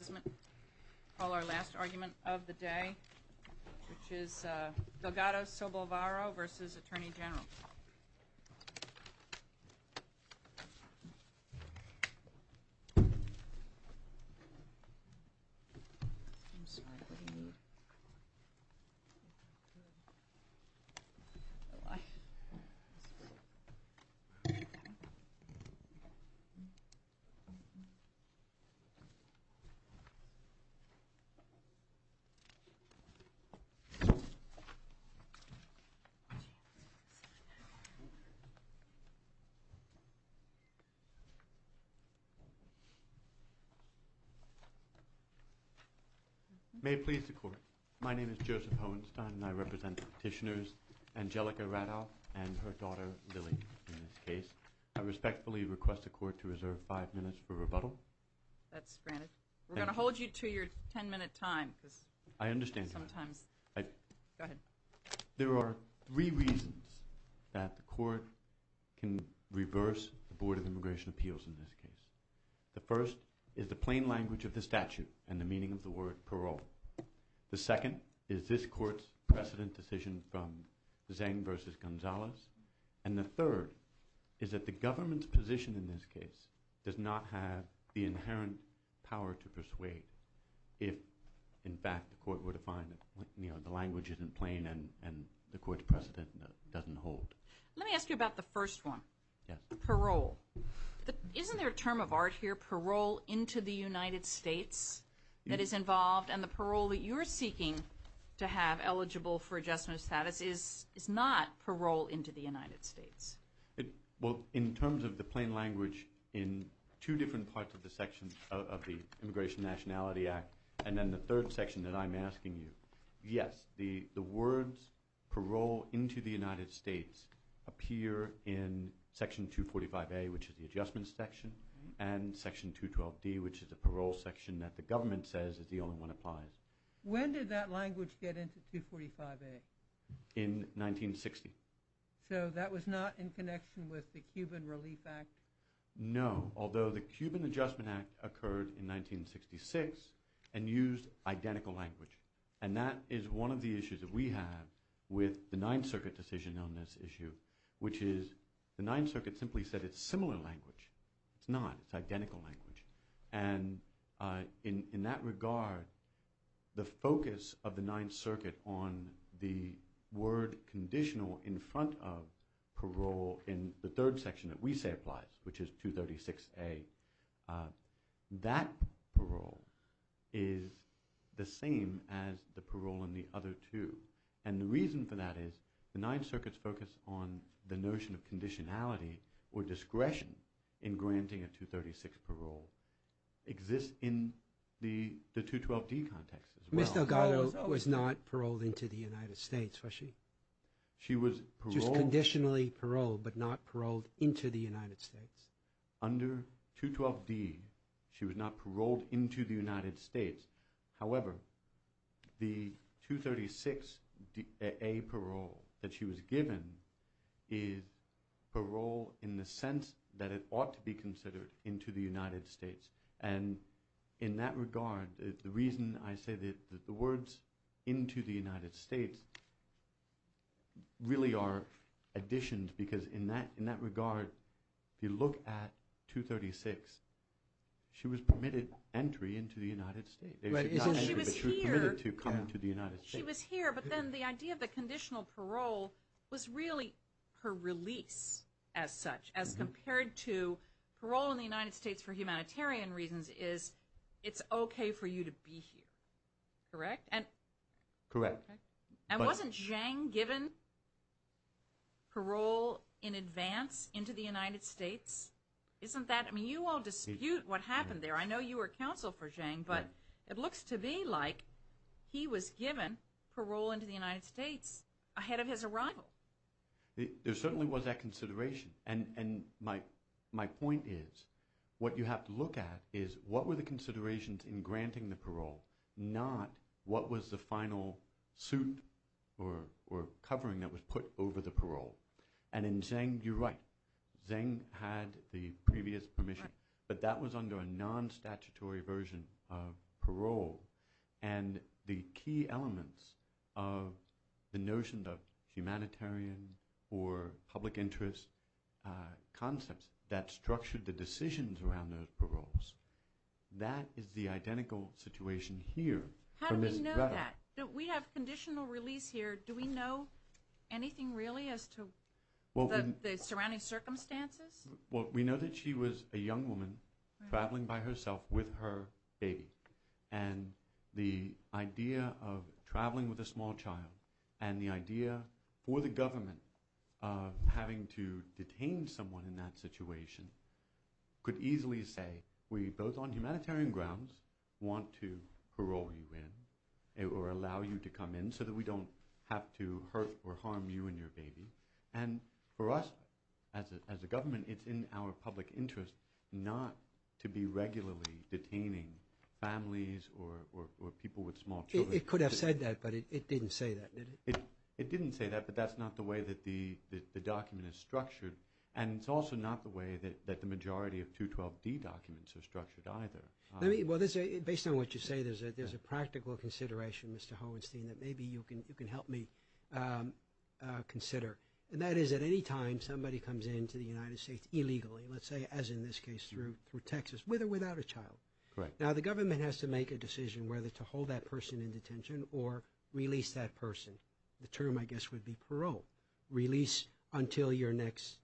I call our last argument of the day, which is Delgado-Sobalvarro v. Attorney General May it please the Court, my name is Joseph Hohenstein and I represent the Petitioners Angelica Raddau and her daughter Lily in this case. I respectfully request the Court to your 10 minute time. I understand. There are three reasons that the Court can reverse the Board of Immigration Appeals in this case. The first is the plain language of the statute and the meaning of the word parole. The second is this Court's precedent decision from Zeng v. Gonzalez. And the third is that the government's position in this case does not have the inherent power to persuade if in fact the Court were to find that the language isn't plain and the Court's precedent doesn't hold. Let me ask you about the first one. Yes. Parole. Isn't there a term of art here, parole into the United States that is involved and the parole that you're seeking to have eligible for adjustment of status is not parole into the United States. Well in terms of the plain language in two different parts of the section of the Immigration Nationality Act and then the third section that I'm asking you, yes the words parole into the United States appear in section 245A which is the adjustment section and section 212D which is the parole section that the government says is the only one that applies. When did that language get into 245A? In 1960. So that was not in connection with the Cuban Relief Act? No. Although the Cuban Adjustment Act occurred in 1966 and used identical language. And that is one of the issues that we have with the Ninth Circuit decision on this issue which is the Ninth Circuit simply said it's similar language. It's not. It's identical language. And in that regard the focus of the Ninth Circuit on the word conditional in front of parole in the third section that we say applies which is 236A, that parole is the same as the parole in the other two. And the reason for that is the Ninth Circuit's focus on the notion of conditionality or discretion in granting a 236 parole exists in the 212D context as well. Ms. Delgado was not paroled into the United States was she? She was paroled. Just conditionally paroled but not paroled into the United States? Under 212D she was not paroled into the United States. However, the 236A parole that she was given is parole in the sense that it ought to be considered into the United States. And in that regard the reason I say that the words into the United States really are additions because in that regard if you look at 236 she was permitted entry into the United States. She was here but then the idea of the conditional parole was really her release as such as compared to parole in the United States for humanitarian reasons is it's okay for you to be here. Correct? Correct. And wasn't Zhang given parole in advance into the United States? I mean you all dispute what happened there. I know you were counsel for Zhang but it looks to be like he was given parole into the United States ahead of his arrival. There certainly was that consideration. And my point is what you have to look at is what were the considerations in granting the parole not what was the final suit or covering that was put over the parole. And in Zhang you're right. Zhang had the previous permission. But that was under a non-statutory version of parole. And the key elements of the notion of humanitarian or public interest concepts that structured the decisions around those paroles. That is the identical situation here. How do we know that? We have conditional release here. Do we know anything really as to the surrounding circumstances? Well, we know that she was a young woman traveling by herself with her baby. And the idea of traveling with a small child and the idea for the government of having to detain someone in that situation could easily say we both on humanitarian grounds want to parole you in or allow you to come in so that we don't have to hurt or harm you and your baby. And for us as a government it's in our public interest not to be regularly detaining families or people with small children. It could have said that but it didn't say that, did it? It didn't say that but that's not the way that the document is structured. And it's also not the way that the majority of 212D documents are structured either. Based on what you say, there's a practical consideration, Mr. Hauenstein, that maybe you can help me consider. And that is at any time somebody comes into the United States illegally, let's say as in this case through Texas, with or without a child. Now, the government has to make a decision whether to hold that person in detention or release that person. The term, I guess, would be parole, release until your next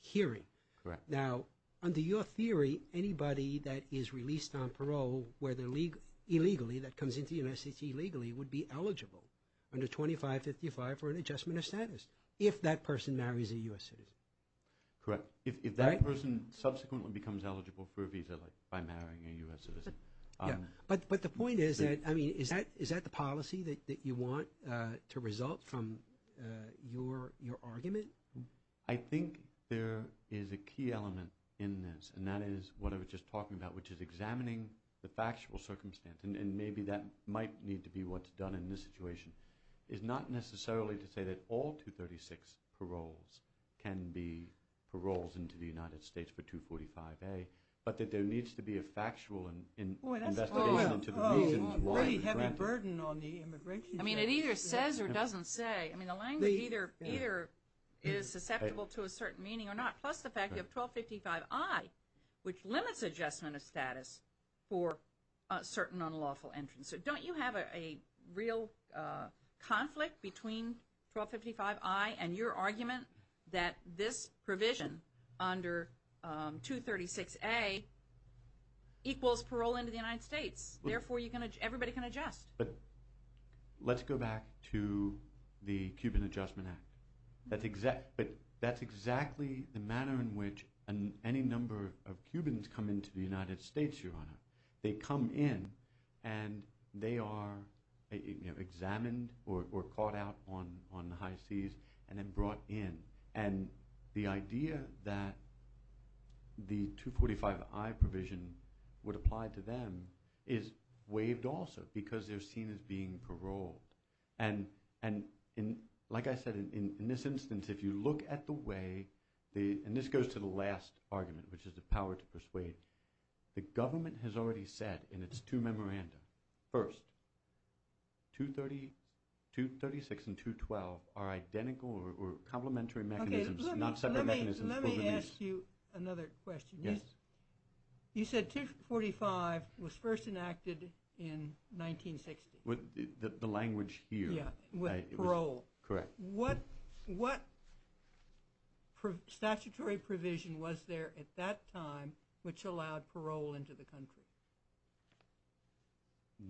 hearing. Correct. Now, under your theory, anybody that is released on parole illegally, that comes into the United States illegally, would be eligible under 2555 for an adjustment of status if that person marries a U.S. citizen. Correct. If that person subsequently becomes eligible for a visa by marrying a U.S. citizen. But the point is that, I mean, is that the policy that you want to result from your argument? I think there is a key element in this, and that is what I was just talking about, which is examining the factual circumstance. And maybe that might need to be what's done in this situation. It's not necessarily to say that all 236 paroles can be paroles into the United States for 245A, but that there needs to be a factual investigation into the reasons why. Oh, a pretty heavy burden on the immigration judge. I mean, it either says or doesn't say. I mean, the language either is susceptible to a certain meaning or not, plus the fact you have 1255I, which limits adjustment of status for certain unlawful entrants. So don't you have a real conflict between 1255I and your argument that this provision under 236A equals parole into the United States? Therefore, everybody can adjust. But let's go back to the Cuban Adjustment Act. That's exactly the manner in which any number of Cubans come into the United States, Your Honor. They come in, and they are examined or caught out on the high seas and then brought in. And the idea that the 245I provision would apply to them is waived also because they're seen as being paroled. And like I said, in this instance, if you look at the way the – and this goes to the last argument, which is the power to persuade. The government has already said in its two memoranda, first, 236 and 212 are identical or complementary mechanisms, not separate mechanisms. Let me ask you another question. Yes. You said 245 was first enacted in 1960. The language here. Parole. Correct. What statutory provision was there at that time which allowed parole into the country?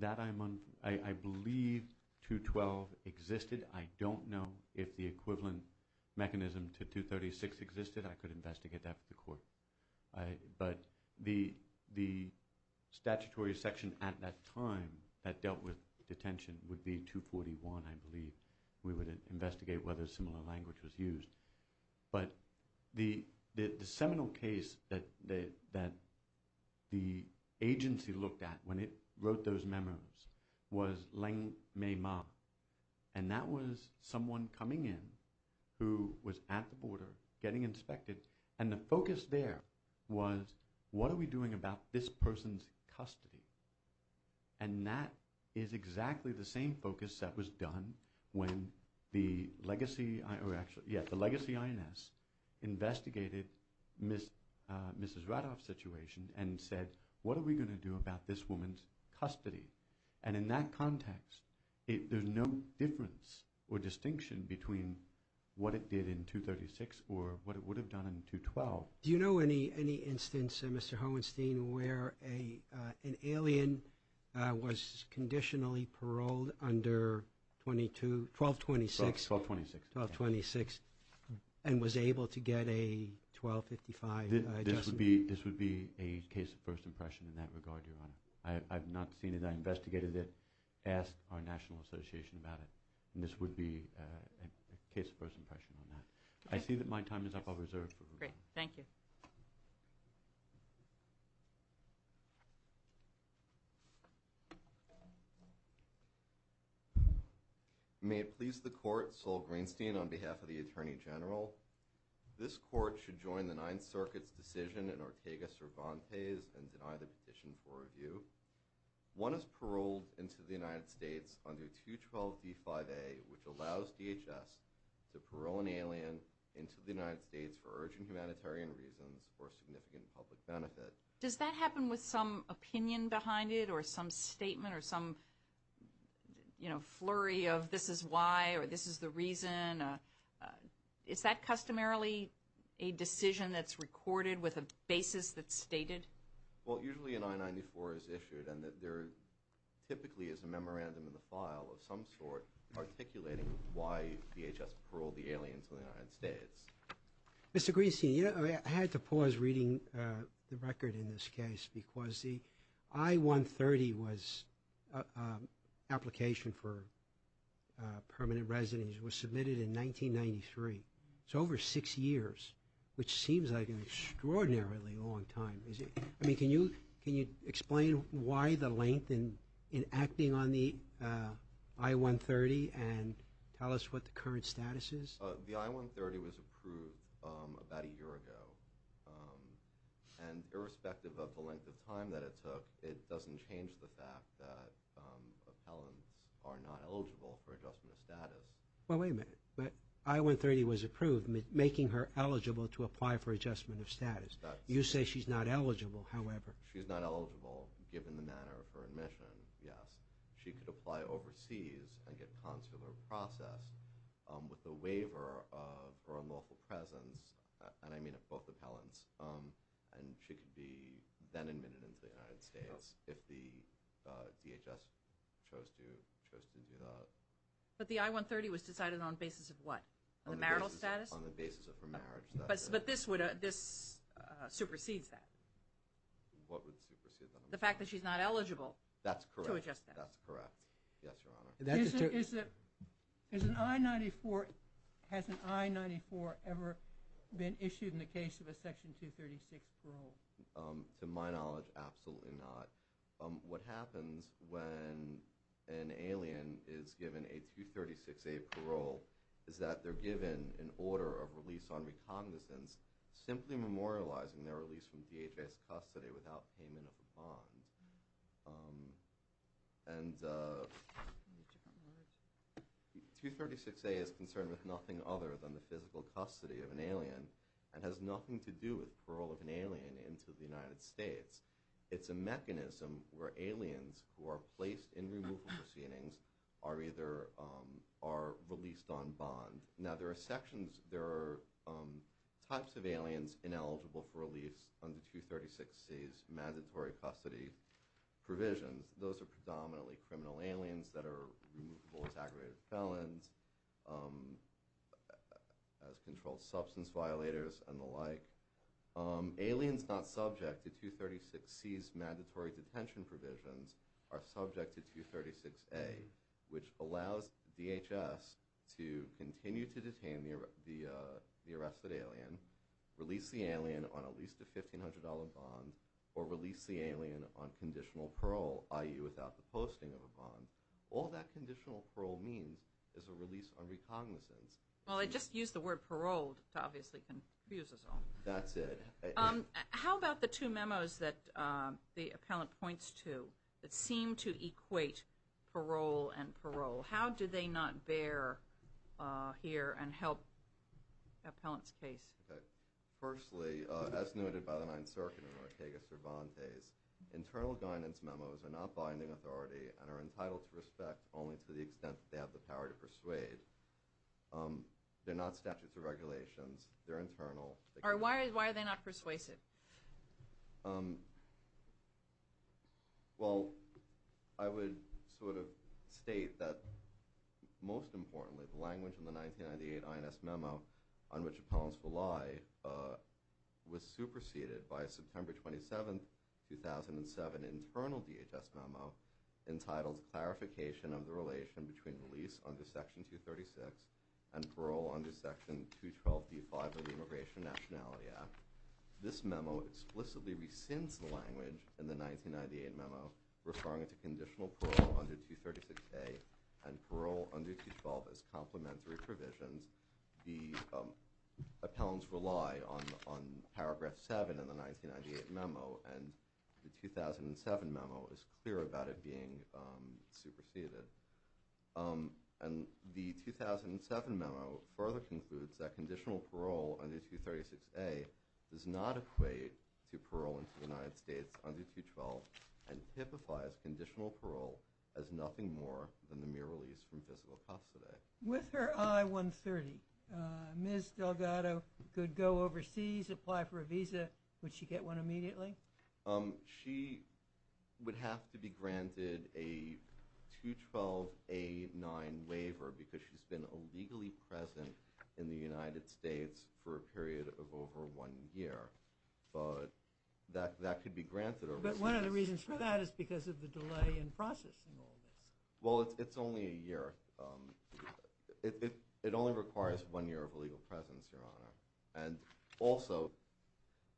That I'm – I believe 212 existed. I don't know if the equivalent mechanism to 236 existed. I could investigate that with the court. But the statutory section at that time that dealt with detention would be 241, I believe. We would investigate whether a similar language was used. But the seminal case that the agency looked at when it wrote those memos was Lengmei Ma. And that was someone coming in who was at the border getting inspected. And the focus there was what are we doing about this person's custody. And that is exactly the same focus that was done when the legacy – or actually, yes, the legacy INS investigated Mrs. Radoff's situation and said what are we going to do about this woman's custody. And in that context, there's no difference or distinction between what it did in 236 or what it would have done in 212. Do you know any instance, Mr. Hohenstein, where an alien was conditionally paroled under 1226? 1226. 1226 and was able to get a 1255 adjustment? This would be a case of first impression in that regard, Your Honor. I have not seen it. I investigated it, asked our national association about it, and this would be a case of first impression on that. I see that my time is up. I'll reserve for review. Great. Thank you. May it please the Court, Sol Greenstein, on behalf of the Attorney General, this Court should join the Ninth Circuit's decision in Ortega-Cervantes and deny the petition for review. One is paroled into the United States under 212D5A, which allows DHS to parole an alien into the United States for urgent humanitarian reasons for significant public benefit. Does that happen with some opinion behind it or some statement or some flurry of this is why or this is the reason? Is that customarily a decision that's recorded with a basis that's stated? Well, usually an I-94 is issued and there typically is a memorandum in the file of some sort articulating why DHS paroled the alien into the United States. Mr. Greenstein, I had to pause reading the record in this case because the I-130 application for permanent residence was submitted in 1993. It's over six years, which seems like an extraordinarily long time. Can you explain why the length in acting on the I-130 and tell us what the current status is? The I-130 was approved about a year ago. And irrespective of the length of time that it took, it doesn't change the fact that appellants are not eligible for adjustment of status. Well, wait a minute. The I-130 was approved making her eligible to apply for adjustment of status. You say she's not eligible, however. She's not eligible given the manner of her admission, yes. She could apply overseas and get consular process with the waiver of her unlawful presence. And I mean both appellants. And she could be then admitted into the United States if the DHS chose to do that. But the I-130 was decided on the basis of what? The marital status? On the basis of her marriage. But this supersedes that. What would supersede that? The fact that she's not eligible to adjust that. That's correct. That's correct. Yes, Your Honor. Has an I-94 ever been issued in the case of a Section 236 parole? To my knowledge, absolutely not. What happens when an alien is given a 236A parole is that they're given an order of release on recognizance, simply memorializing their release from DHS custody without payment of a bond. And 236A is concerned with nothing other than the physical custody of an alien and has nothing to do with parole of an alien into the United States. It's a mechanism where aliens who are placed in removal proceedings are released on bond. There are types of aliens ineligible for release under 236C's mandatory custody provisions. Those are predominantly criminal aliens that are removable as aggravated felons, as controlled substance violators, and the like. Aliens not subject to 236C's mandatory detention provisions are subject to 236A, which allows DHS to continue to detain the arrested alien, release the alien on at least a $1,500 bond, or release the alien on conditional parole, i.e. without the posting of a bond. All that conditional parole means is a release on recognizance. Well, I just used the word paroled to obviously confuse us all. That's it. How about the two memos that the appellant points to that seem to equate parole and parole? How do they not bear here and help the appellant's case? Firstly, as noted by the Ninth Circuit in Ortega-Cervantes, internal guidance memos are not binding authority and are entitled to respect only to the extent that they have the power to persuade. They're not statutes or regulations. They're internal. Why are they not persuasive? Well, I would sort of state that, most importantly, the language in the 1998 INS memo on which appellants rely was superseded by a September 27, 2007, internal DHS memo entitled Clarification of the Relation between Release under Section 236 and Parole under Section 212b-5 of the Immigration Nationality Act. This memo explicitly rescinds the language in the 1998 memo referring to conditional parole under 236a and parole under 212 as complementary provisions. The appellants rely on paragraph 7 in the 1998 memo, and the 2007 memo is clear about it being superseded. The 2007 memo further concludes that conditional parole under 236a does not equate to parole in the United States under 212 and typifies conditional parole as nothing more than the mere release from physical custody. With her I-130, Ms. Delgado could go overseas, apply for a visa. Would she get one immediately? She would have to be granted a 212a-9 waiver because she's been illegally present in the United States for a period of over one year. But that could be granted. But one of the reasons for that is because of the delay in processing all this. Well, it's only a year. It only requires one year of legal presence, Your Honor. And also,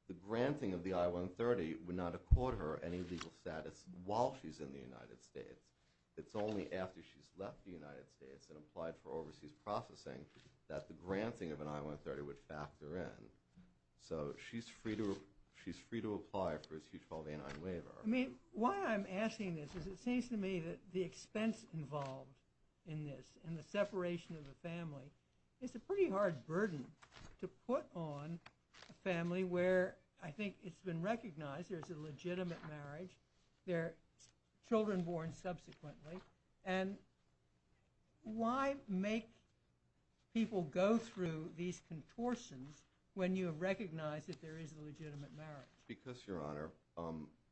the granting of the I-130 would not accord her any legal status while she's in the United States. It's only after she's left the United States and applied for overseas processing that the granting of an I-130 would factor in. So she's free to apply for a 212a-9 waiver. I mean, why I'm asking this is it seems to me that the expense involved in this and the separation of the family is a pretty hard burden to put on a family where I think it's been recognized there's a legitimate marriage. They're children born subsequently. And why make people go through these contortions when you have recognized that there is a legitimate marriage? Because, Your Honor,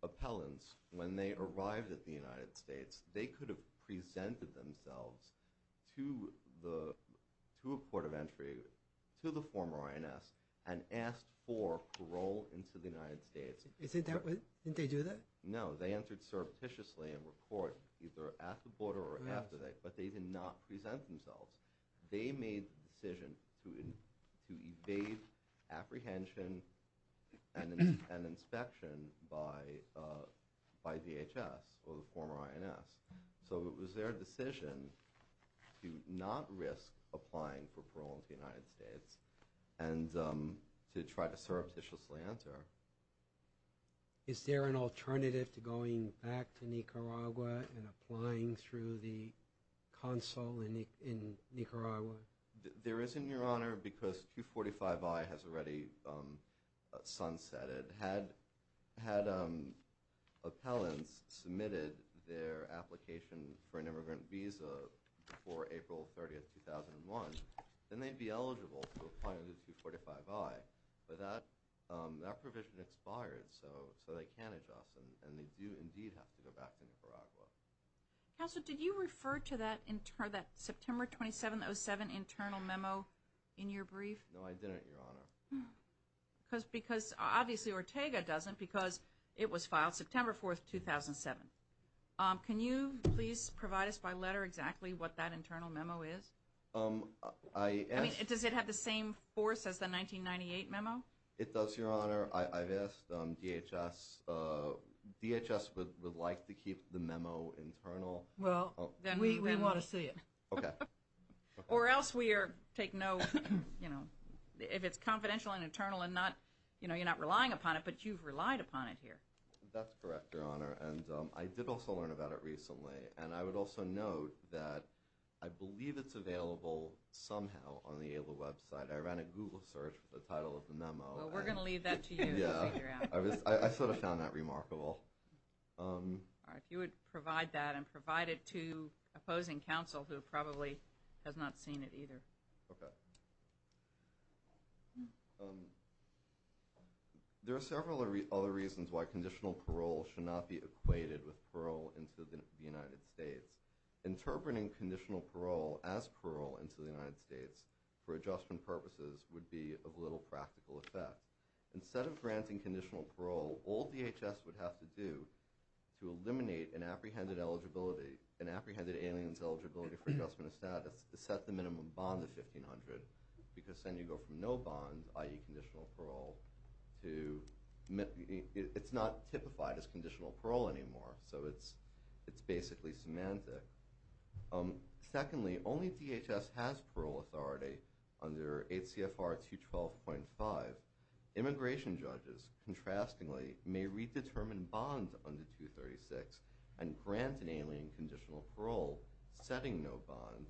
appellants, when they arrived at the United States, they could have presented themselves to a port of entry, to the former INS, and asked for parole into the United States. Didn't they do that? No. They entered surreptitiously and were caught either at the border or after that. But they did not present themselves. They made the decision to evade apprehension and inspection by DHS or the former INS. So it was their decision to not risk applying for parole into the United States and to try to surreptitiously enter. Is there an alternative to going back to Nicaragua and applying through the consul in Nicaragua? There isn't, Your Honor, because 245I has already sunsetted. Had appellants submitted their application for an immigrant visa before April 30, 2001, then they'd be eligible to apply under 245I. But that provision expired, so they can't adjust, and they do indeed have to go back to Nicaragua. Counselor, did you refer to that September 2707 internal memo in your brief? No, I didn't, Your Honor. Because, obviously, Ortega doesn't, because it was filed September 4, 2007. Can you please provide us by letter exactly what that internal memo is? I mean, does it have the same force as the 1998 memo? It does, Your Honor. I've asked DHS. DHS would like to keep the memo internal. Well, then we want to see it. Okay. Or else we take no, you know, if it's confidential and internal and not, you know, you're not relying upon it, but you've relied upon it here. That's correct, Your Honor, and I did also learn about it recently. And I would also note that I believe it's available somehow on the AILA website. I ran a Google search for the title of the memo. Well, we're going to leave that to you to figure out. Yeah. I sort of found that remarkable. All right. If you would provide that and provide it to opposing counsel, who probably has not seen it either. Okay. There are several other reasons why conditional parole should not be equated with parole into the United States. Interpreting conditional parole as parole into the United States for adjustment purposes would be of little practical effect. Instead of granting conditional parole, all DHS would have to do to eliminate an apprehended eligibility, an apprehended alien's eligibility for adjustment of status, is set the minimum bond of $1,500 because then you go from no bond, i.e., It's not typified as conditional parole anymore, so it's basically semantic. Secondly, only DHS has parole authority under 8 CFR 212.5. Immigration judges, contrastingly, may redetermine bonds under 236 and grant an alien conditional parole setting no bond.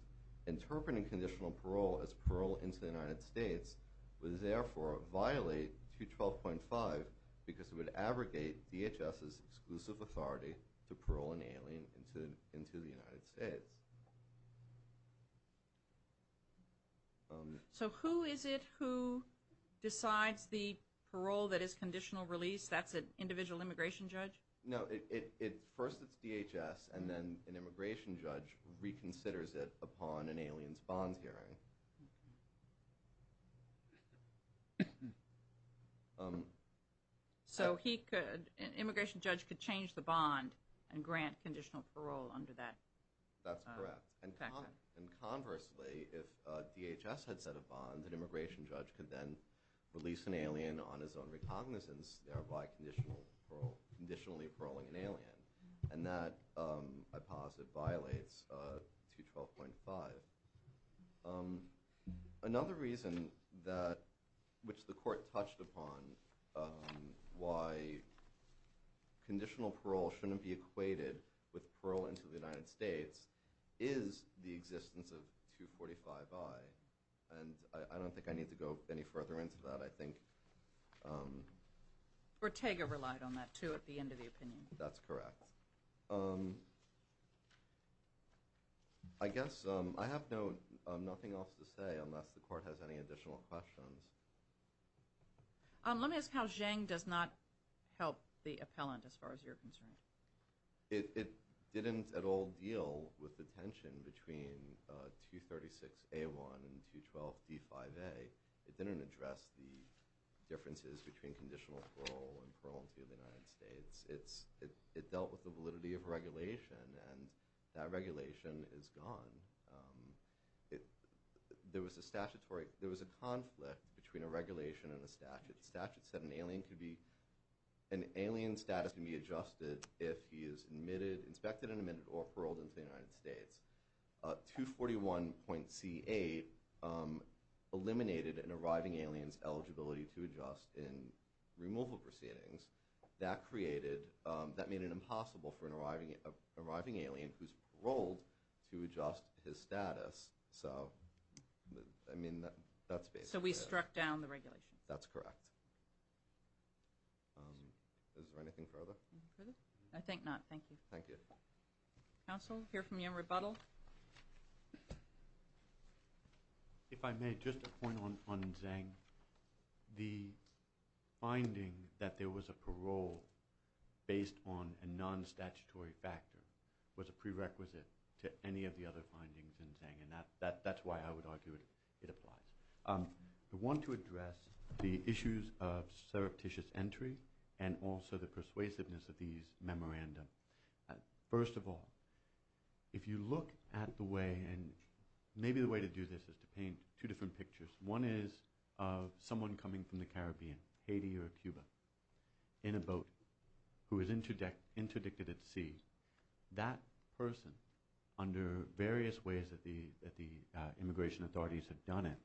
Interpreting conditional parole as parole into the United States would therefore violate 212.5 because it would abrogate DHS's exclusive authority to parole an alien into the United States. So who is it who decides the parole that is conditional release? That's an individual immigration judge? No, first it's DHS, and then an immigration judge reconsiders it upon an alien's bond hearing. So an immigration judge could change the bond and grant conditional parole under that? That's correct. And conversely, if DHS had set a bond, an immigration judge could then release an alien on his own recognizance, thereby conditionally paroling an alien. And that, I posit, violates 212.5. Another reason which the court touched upon why conditional parole shouldn't be equated with parole into the United States is the existence of 245i. And I don't think I need to go any further into that. Or Tega relied on that, too, at the end of the opinion. That's correct. I guess I have nothing else to say unless the court has any additional questions. Let me ask how Zhang does not help the appellant as far as you're concerned. It didn't at all deal with the tension between 236a1 and 212d5a. It didn't address the differences between conditional parole and parole into the United States. It dealt with the validity of regulation, and that regulation is gone. There was a conflict between a regulation and a statute. The statute said an alien status can be adjusted if he is inspected and admitted or paroled into the United States. 241.c8 eliminated an arriving alien's eligibility to adjust in removal proceedings. That made it impossible for an arriving alien who's paroled to adjust his status. So we struck down the regulation. That's correct. Is there anything further? I think not. Thank you. Thank you. Counsel, hear from you in rebuttal. If I may, just a point on Zhang. The finding that there was a parole based on a non-statutory factor was a prerequisite to any of the other findings in Zhang, and that's why I would argue it applies. The one to address the issues of surreptitious entry and also the persuasiveness of these memorandum First of all, if you look at the way, and maybe the way to do this is to paint two different pictures. One is of someone coming from the Caribbean, Haiti or Cuba, in a boat who is interdicted at sea. That person, under various ways that the immigration authorities have done it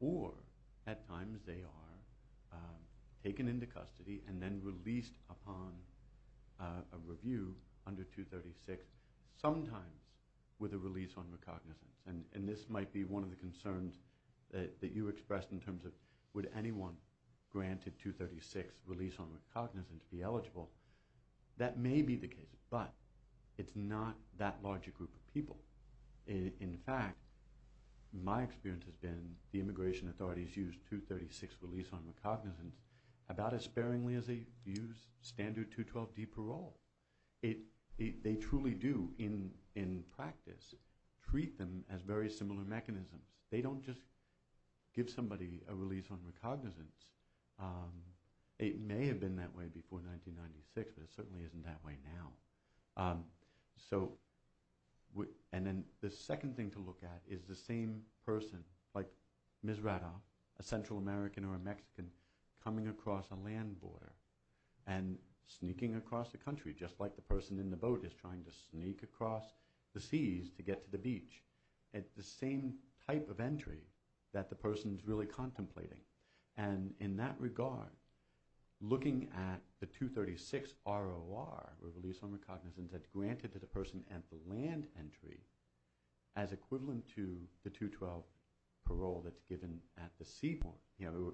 or at times they are taken into custody and then released upon a review under 236, sometimes with a release on recognizance. And this might be one of the concerns that you expressed in terms of would anyone granted 236 release on recognizance be eligible? That may be the case, but it's not that large a group of people. In fact, my experience has been the immigration authorities use 236 release on recognizance about as sparingly as they use standard 212D parole. They truly do, in practice, treat them as very similar mechanisms. They don't just give somebody a release on recognizance. It may have been that way before 1996, but it certainly isn't that way now. And then the second thing to look at is the same person, like Ms. Rada, a Central American or a Mexican, coming across a land border and sneaking across the country, just like the person in the boat is trying to sneak across the seas to get to the beach. It's the same type of entry that the person is really contemplating. And in that regard, looking at the 236 ROR, or release on recognizance, that's granted to the person at the land entry as equivalent to the 212 parole that's given at the seaport,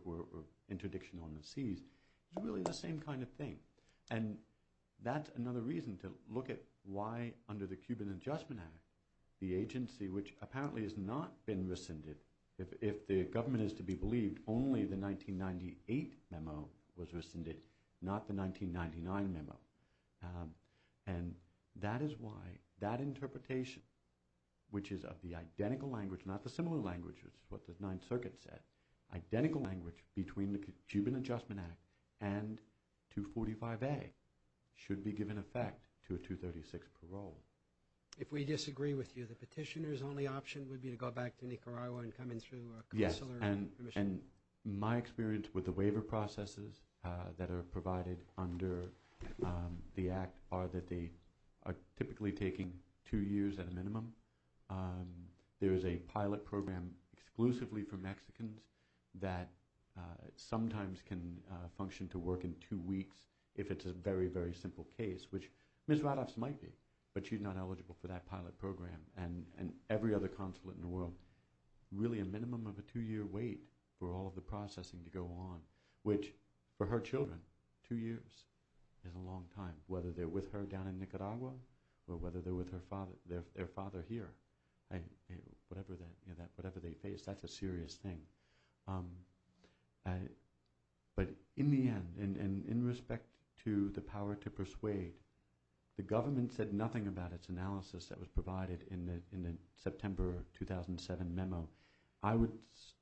or interdiction on the seas, is really the same kind of thing. And that's another reason to look at why, under the Cuban Adjustment Act, the agency, which apparently has not been rescinded, if the government is to be believed, only the 1998 memo was rescinded, not the 1999 memo. And that is why that interpretation, which is of the identical language, not the similar language, which is what the Ninth Circuit said, identical language between the Cuban Adjustment Act and 245A, should be given effect to a 236 parole. If we disagree with you, the petitioner's only option would be to go back to Nicaragua and come in through a consular permission. And my experience with the waiver processes that are provided under the Act are that they are typically taking two years at a minimum. There is a pilot program exclusively for Mexicans that sometimes can function to work in two weeks if it's a very, very simple case, which Ms. Radoff's might be, but she's not eligible for that pilot program and every other consulate in the world. So really a minimum of a two-year wait for all of the processing to go on, which for her children, two years is a long time, whether they're with her down in Nicaragua or whether they're with their father here. Whatever they face, that's a serious thing. But in the end, and in respect to the power to persuade, the government said nothing about its analysis that was provided in the September 2007 memo. I would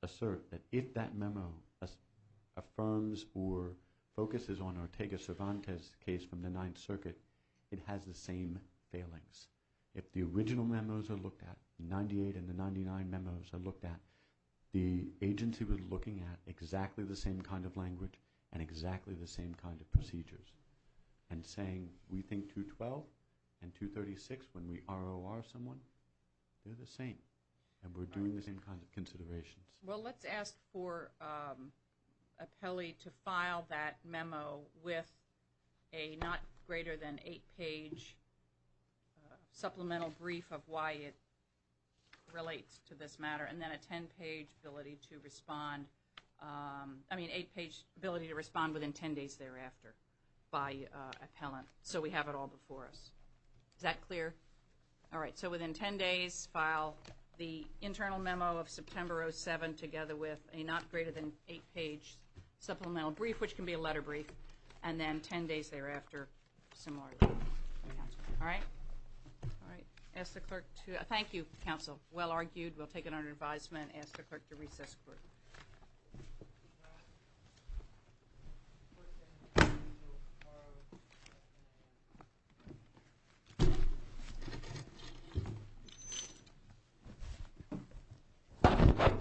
assert that if that memo affirms or focuses on Ortega Cervantes' case from the Ninth Circuit, it has the same failings. If the original memos are looked at, 98 and the 99 memos are looked at, the agency was looking at exactly the same kind of language and exactly the same kind of procedures and saying we think 212 and 236 when we ROR someone, they're the same and we're doing the same kind of considerations. Well, let's ask for a pally to file that memo with a not greater than eight-page supplemental brief of why it relates to this matter and then a ten-page ability to respond. I mean eight-page ability to respond within ten days thereafter by appellant so we have it all before us. Is that clear? All right. So within ten days, file the internal memo of September 2007 together with a not greater than eight-page supplemental brief, which can be a letter brief, and then ten days thereafter, similarly. All right? All right. Thank you, counsel. Well argued. We'll take it under advisement. I'm going to ask the clerk to recess for a moment.